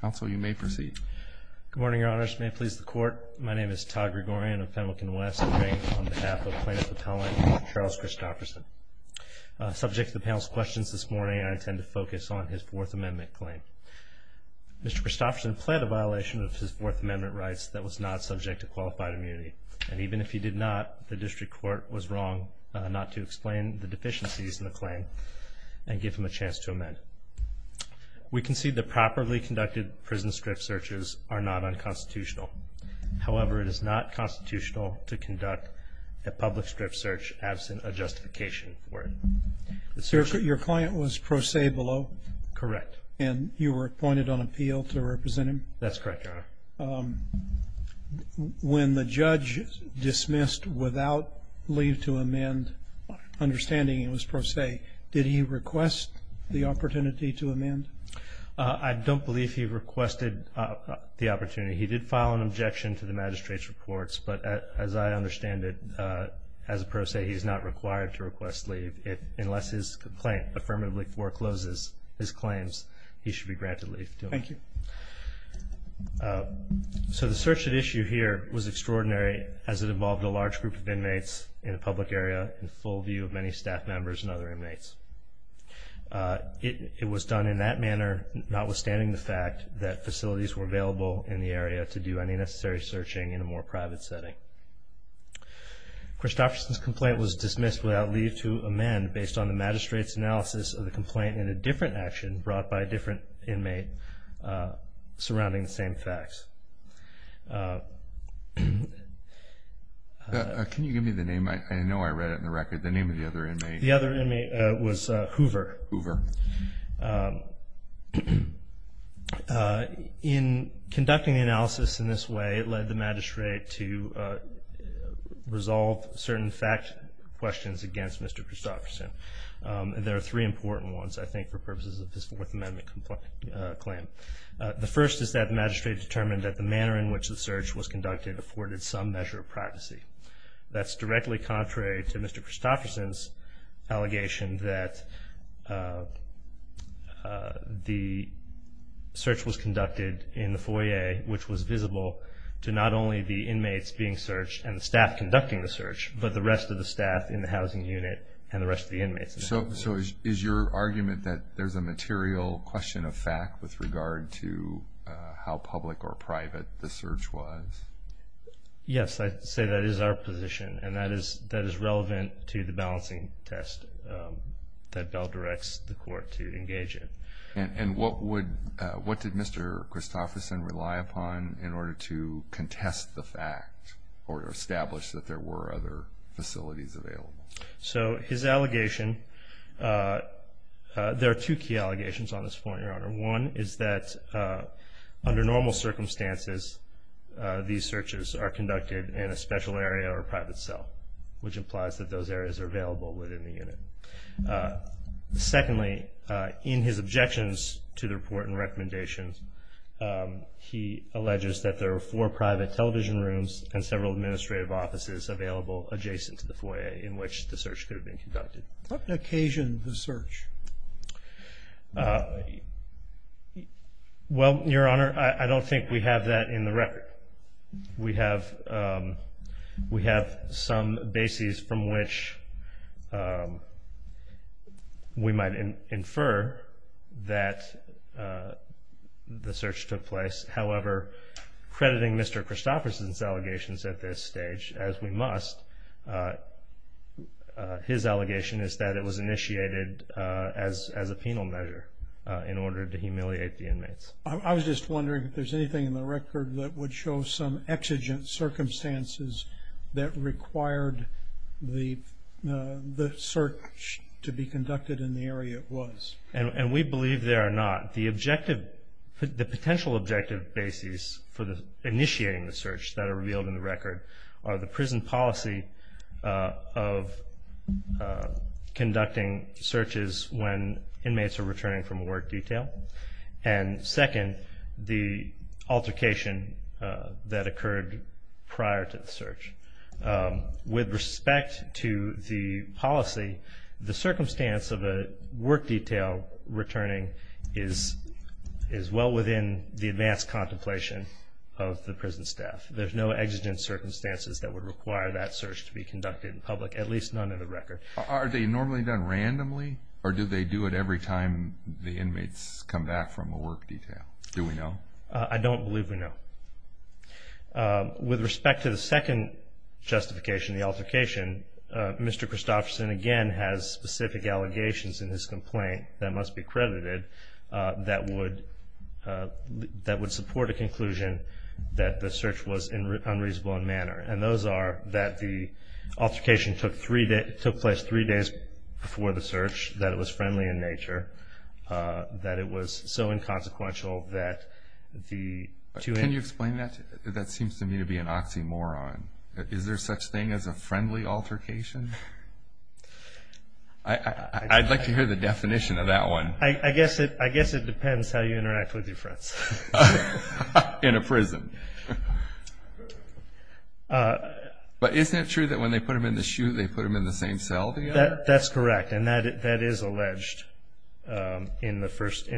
Counsel, you may proceed. Good morning, Your Honors. May it please the Court, my name is Todd Gregorian of Pendleton West, and I'm here on behalf of Plaintiff Appellant Charles Christoferson. Subject to the panel's questions this morning, I intend to focus on his Fourth Amendment claim. Mr. Christoferson pled a violation of his Fourth Amendment rights that was not subject to qualified immunity, and even if he did not, the district court was wrong not to explain the deficiencies in the claim and give him a chance to amend. We concede the properly conducted prison strip searches are not unconstitutional. However, it is not constitutional to conduct a public strip search absent a justification for it. Your client was pro se below? Correct. And you were appointed on appeal to represent him? That's correct, Your Honor. When the judge dismissed without leave to amend, understanding it was pro se, did he request the opportunity to amend? I don't believe he requested the opportunity. He did file an objection to the magistrate's reports, but as I understand it, as a pro se, he's not required to request leave unless his complaint affirmatively forecloses his claims, he should be granted leave to amend. Thank you. So the search at issue here was extraordinary as it involved a large group of inmates in a public area in full view of many staff members and other inmates. It was done in that manner notwithstanding the fact that facilities were available in the area to do any necessary searching in a more private setting. Christofferson's complaint was dismissed without leave to amend based on the magistrate's analysis of the complaint in a different action brought by a different inmate surrounding the same facts. Can you give me the name? I know I read it in the record. The name of the other inmate? The other inmate was Hoover. Hoover. In conducting the analysis in this way, it led the magistrate to resolve certain fact questions against Mr. Christofferson. There are three important ones, I think, for purposes of his Fourth Amendment claim. The first is that the magistrate determined that the manner in which the search was conducted afforded some measure of privacy. That's directly contrary to Mr. Christofferson's allegation that the search was conducted in the foyer, which was visible to not only the inmates being searched and the staff conducting the search, but the rest of the staff in the housing unit and the rest of the inmates. So is your argument that there's a material question of fact with regard to how public or private the search was? Yes, I'd say that is our position, and that is relevant to the balancing test that Bell directs the court to engage in. And what did Mr. Christofferson rely upon in order to contest the fact or establish that there were other facilities available? So his allegation, there are two key allegations on this point, Your Honor. One is that under normal circumstances, these searches are conducted in a special area or a private cell, which implies that those areas are available within the unit. Secondly, in his objections to the report and recommendations, he alleges that there were four private television rooms and several administrative offices available adjacent to the foyer in which the search could have been conducted. What occasion of the search? Well, Your Honor, I don't think we have that in the record. We have some bases from which we might infer that the search took place. However, crediting Mr. Christofferson's allegations at this stage, as we must, his allegation is that it was initiated as a penal measure in order to humiliate the inmates. I was just wondering if there's anything in the record that would show some exigent circumstances that required the search to be conducted in the area it was. And we believe there are not. The potential objective bases for initiating the search that are revealed in the record are the prison policy of conducting searches when inmates are returning from a work detail and, second, the altercation that occurred prior to the search. With respect to the policy, the circumstance of a work detail returning is well within the advanced contemplation of the prison staff. There's no exigent circumstances that would require that search to be conducted in public, at least none in the record. Are they normally done randomly, or do they do it every time the inmates come back from a work detail? Do we know? I don't believe we know. With respect to the second justification, the altercation, Mr. Christofferson again has specific allegations in his complaint that must be credited that would support a conclusion that the search was unreasonable in manner. And those are that the altercation took place three days before the search, that it was friendly in nature, that it was so inconsequential that the two inmates That seems to me to be an oxymoron. Is there such thing as a friendly altercation? I'd like to hear the definition of that one. I guess it depends how you interact with your friends. In a prison. But isn't it true that when they put them in the chute, they put them in the same cell together? That's correct. And that is alleged in the first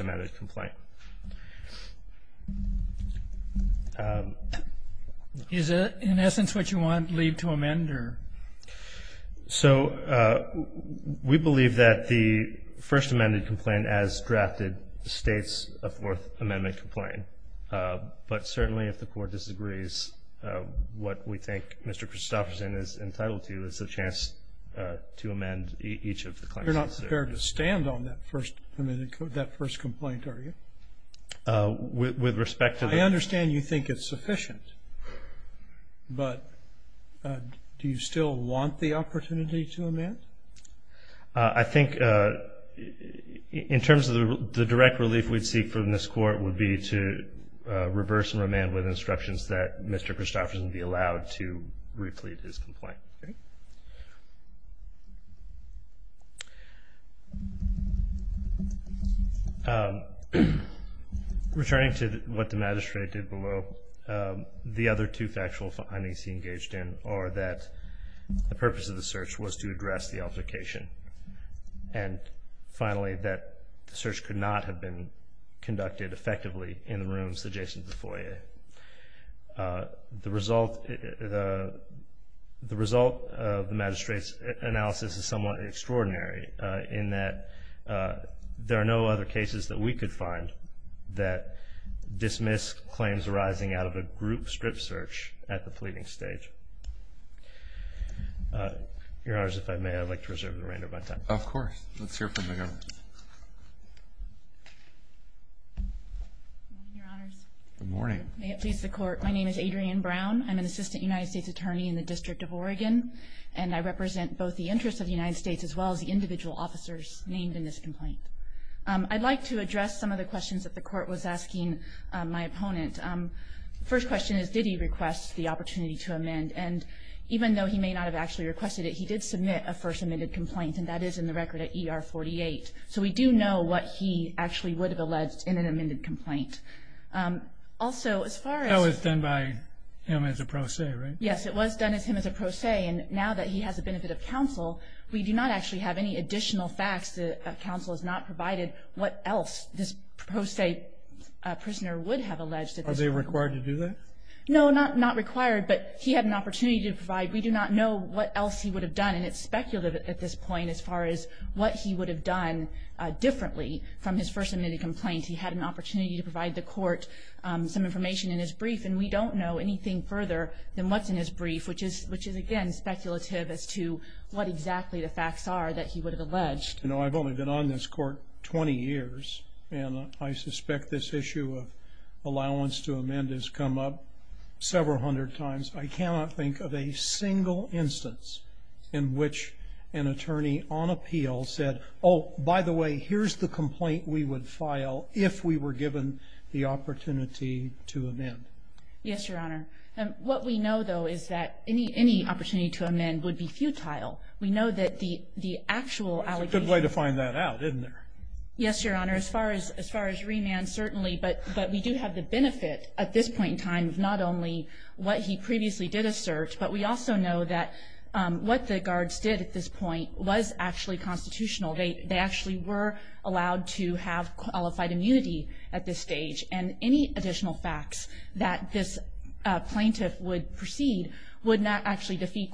amended complaint. Is it in essence what you want to lead to amend? So we believe that the first amended complaint as drafted states a Fourth Amendment complaint. But certainly if the court disagrees, what we think Mr. Christofferson is entitled to is a chance to amend each of the claims. You're not prepared to stand on that first amendment, that first complaint, are you? With respect to the I understand you think it's sufficient. But do you still want the opportunity to amend? I think in terms of the direct relief we'd seek from this court would be to reverse and remand with instructions that Mr. Christofferson be allowed to replete his complaint. Returning to what the magistrate did below, the other two factual findings he engaged in are that the purpose of the search was to address the altercation, and finally that the search could not have been conducted effectively in the rooms adjacent to the foyer. The result of the magistrate's analysis is somewhat extraordinary in that there are no other cases that we could find that dismiss claims arising out of a group strip search at the pleading stage. Your Honors, if I may, I'd like to reserve the remainder of my time. Of course. Let's hear from the Governor. Good morning, Your Honors. Good morning. May it please the Court. My name is Adrienne Brown. I'm an assistant United States attorney in the District of Oregon, and I represent both the interests of the United States as well as the individual officers named in this complaint. I'd like to address some of the questions that the Court was asking my opponent. The first question is, did he request the opportunity to amend? And even though he may not have actually requested it, he did submit a first amended complaint, and that is in the record at ER 48. So we do know what he actually would have alleged in an amended complaint. Also, as far as – That was done by him as a pro se, right? Yes, it was done as him as a pro se, and now that he has the benefit of counsel, we do not actually have any additional facts that counsel has not provided what else this pro se prisoner would have alleged. Are they required to do that? No, not required, but he had an opportunity to provide. We do not know what else he would have done, and it's speculative at this point as far as what he would have done differently from his first amended complaint. He had an opportunity to provide the Court some information in his brief, and we don't know anything further than what's in his brief, which is, again, speculative as to what exactly the facts are that he would have alleged. You know, I've only been on this Court 20 years, and I suspect this issue of allowance to amend has come up several hundred times. I cannot think of a single instance in which an attorney on appeal said, oh, by the way, here's the complaint we would file if we were given the opportunity to amend. Yes, Your Honor. What we know, though, is that any opportunity to amend would be futile. We know that the actual allegation. It's a good way to find that out, isn't it? Yes, Your Honor. As far as remand, certainly. But we do have the benefit at this point in time of not only what he previously did assert, but we also know that what the guards did at this point was actually constitutional. They actually were allowed to have qualified immunity at this stage, and any additional facts that this plaintiff would precede would not actually defeat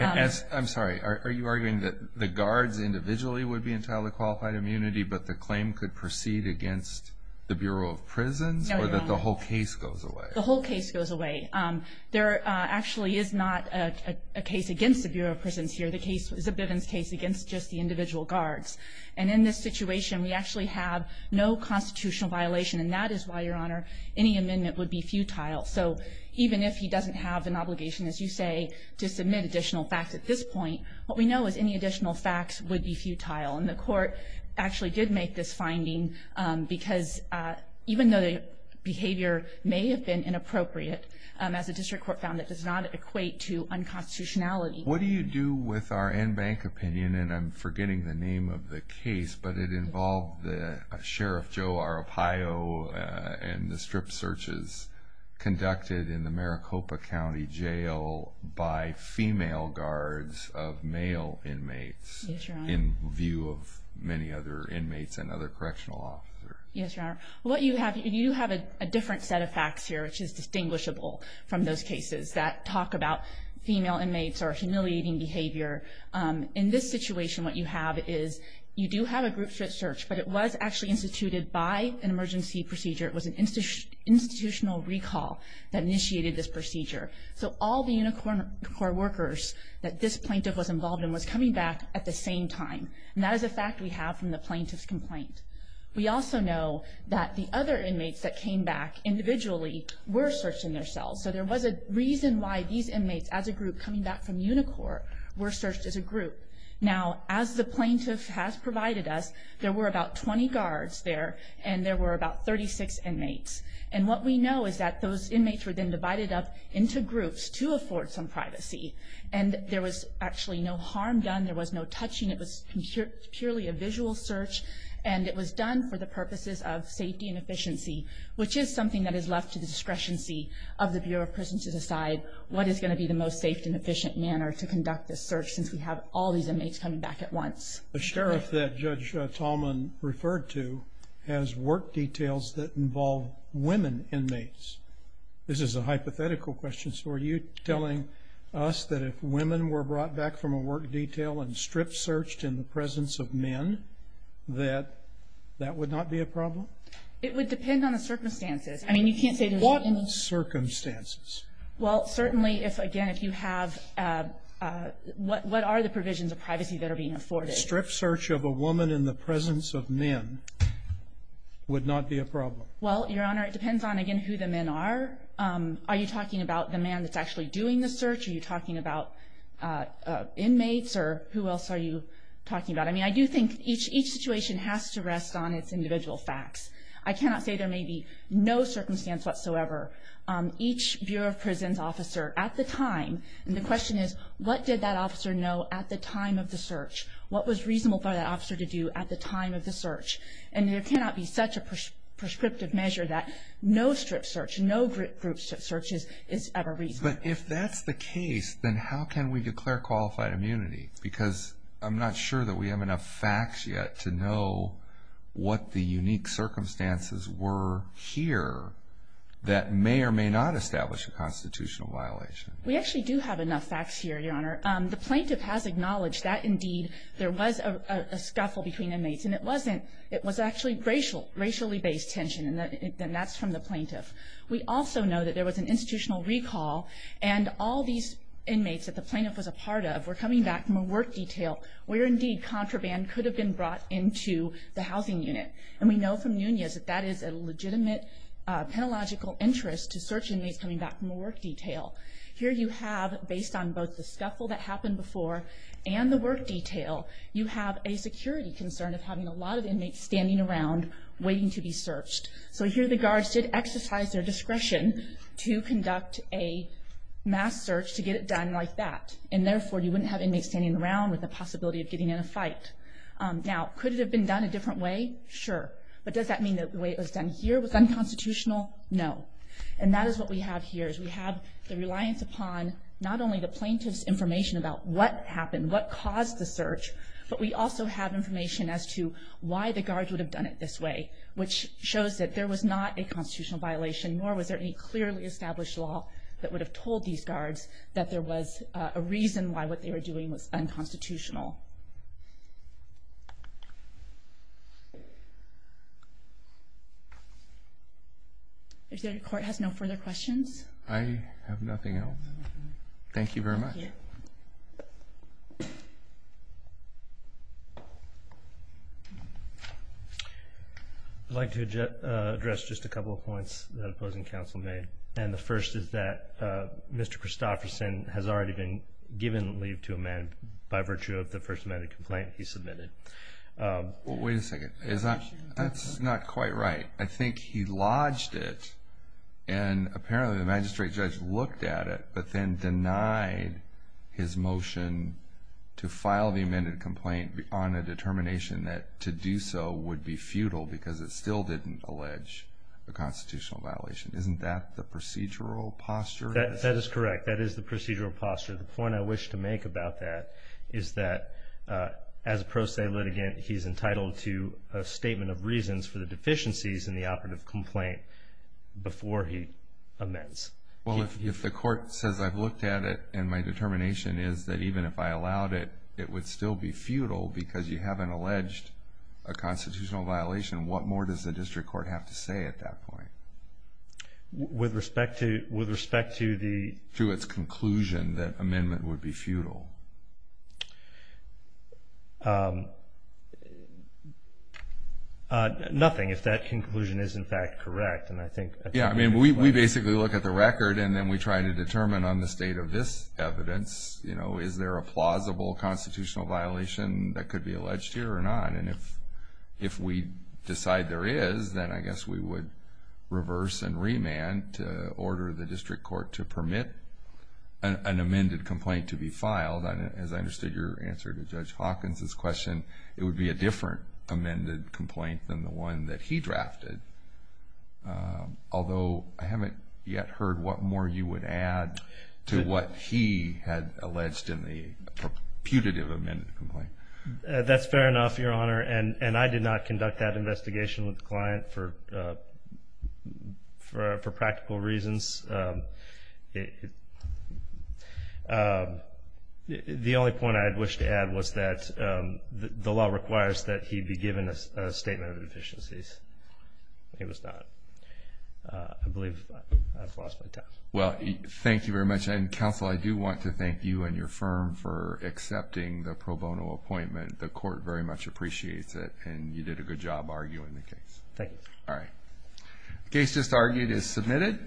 I'm sorry. Are you arguing that the guards individually would be entitled to qualified immunity, but the claim could proceed against the Bureau of Prisons or that the whole case goes away? The whole case goes away. There actually is not a case against the Bureau of Prisons here. The case is a Bivens case against just the individual guards. And in this situation, we actually have no constitutional violation, and that is why, Your Honor, any amendment would be futile. So even if he doesn't have an obligation, as you say, to submit additional facts at this point, what we know is any additional facts would be futile. And the court actually did make this finding because even though the behavior may have been inappropriate, as the district court found, it does not equate to unconstitutionality. What do you do with our in-bank opinion, and I'm forgetting the name of the case, but it involved Sheriff Joe Arropaio and the strip searches conducted in the Maricopa County Jail by female guards of male inmates in view of many other inmates and other correctional officers. Yes, Your Honor. You have a different set of facts here, which is distinguishable from those cases that talk about female inmates or humiliating behavior. In this situation, what you have is you do have a group strip search, but it was actually instituted by an emergency procedure. It was an institutional recall that initiated this procedure. So all the Unicorn Corps workers that this plaintiff was involved in was coming back at the same time, and that is a fact we have from the plaintiff's complaint. We also know that the other inmates that came back individually were searched in their cells. So there was a reason why these inmates as a group coming back from Unicorp were searched as a group. Now, as the plaintiff has provided us, there were about 20 guards there, and there were about 36 inmates. And what we know is that those inmates were then divided up into groups to afford some privacy, and there was actually no harm done. There was no touching. It was purely a visual search, and it was done for the purposes of safety and efficiency, which is something that is left to the discrepancy of the Bureau of Prisons to decide what is going to be the most safe and efficient manner to conduct this search since we have all these inmates coming back at once. The sheriff that Judge Tallman referred to has work details that involve women inmates. This is a hypothetical question. So are you telling us that if women were brought back from a work detail and strip searched in the presence of men that that would not be a problem? It would depend on the circumstances. I mean, you can't say there's any. What circumstances? Well, certainly if, again, if you have what are the provisions of privacy that are being afforded. A strip search of a woman in the presence of men would not be a problem. Well, Your Honor, it depends on, again, who the men are. Are you talking about the man that's actually doing the search? Are you talking about inmates? Or who else are you talking about? I mean, I do think each situation has to rest on its individual facts. I cannot say there may be no circumstance whatsoever. Each Bureau of Prisons officer at the time, and the question is, what did that officer know at the time of the search? What was reasonable for that officer to do at the time of the search? And there cannot be such a prescriptive measure that no strip search, no group strip search is ever reasonable. But if that's the case, then how can we declare qualified immunity? Because I'm not sure that we have enough facts yet to know what the unique circumstances were here that may or may not establish a constitutional violation. We actually do have enough facts here, Your Honor. The plaintiff has acknowledged that, indeed, there was a scuffle between inmates, and it wasn't. It was actually racial, racially based tension, and that's from the plaintiff. We also know that there was an institutional recall, and all these inmates that the plaintiff was a part of were coming back from a work detail where, indeed, contraband could have been brought into the housing unit. And we know from Nunez that that is a legitimate, pedagogical interest to search inmates coming back from a work detail. Here you have, based on both the scuffle that happened before and the work detail, you have a security concern of having a lot of inmates standing around waiting to be searched. So here the guards did exercise their discretion to conduct a mass search to get it done like that. And, therefore, you wouldn't have inmates standing around with the possibility of getting in a fight. Now, could it have been done a different way? Sure. But does that mean that the way it was done here was unconstitutional? No. And that is what we have here, is we have the reliance upon not only the plaintiff's information about what happened, what caused the search, but we also have information as to why the guards would have done it this way, which shows that there was not a constitutional violation, nor was there any clearly established law that would have told these guards that there was a reason why what they were doing was unconstitutional. If the Court has no further questions. I have nothing else. Thank you very much. I'd like to address just a couple of points that opposing counsel made. And the first is that Mr. Christofferson has already been given leave to amend, by virtue of the first amended complaint he submitted. Wait a second. That's not quite right. I think he lodged it, and apparently the magistrate judge looked at it, but then denied his motion to file the amended complaint on a determination that to do so would be futile because it still didn't allege a constitutional violation. Isn't that the procedural posture? That is correct. That is the procedural posture. The point I wish to make about that is that, as a pro se litigant, he's entitled to a statement of reasons for the deficiencies in the operative complaint before he amends. Well, if the Court says, I've looked at it, and my determination is that even if I allowed it, it would still be futile because you haven't alleged a constitutional violation, what more does the district court have to say at that point? With respect to the... To its conclusion that amendment would be futile. Nothing, if that conclusion is in fact correct. Yeah, I mean, we basically look at the record, and then we try to determine on the state of this evidence, you know, is there a plausible constitutional violation that could be alleged here or not? And if we decide there is, then I guess we would reverse and remand to order the district court to permit an amended complaint to be filed. As I understood your answer to Judge Hawkins' question, it would be a different amended complaint than the one that he drafted, although I haven't yet heard what more you would add to what he had alleged in the putative amended complaint. That's fair enough, Your Honor, and I did not conduct that investigation with the client for practical reasons. The only point I'd wish to add was that the law requires that he be given a statement of deficiencies. He was not. I believe I've lost my time. Well, thank you very much, and counsel, I do want to thank you and your firm for accepting the pro bono appointment. The court very much appreciates it, and you did a good job arguing the case. Thank you. All right. The case just argued is submitted.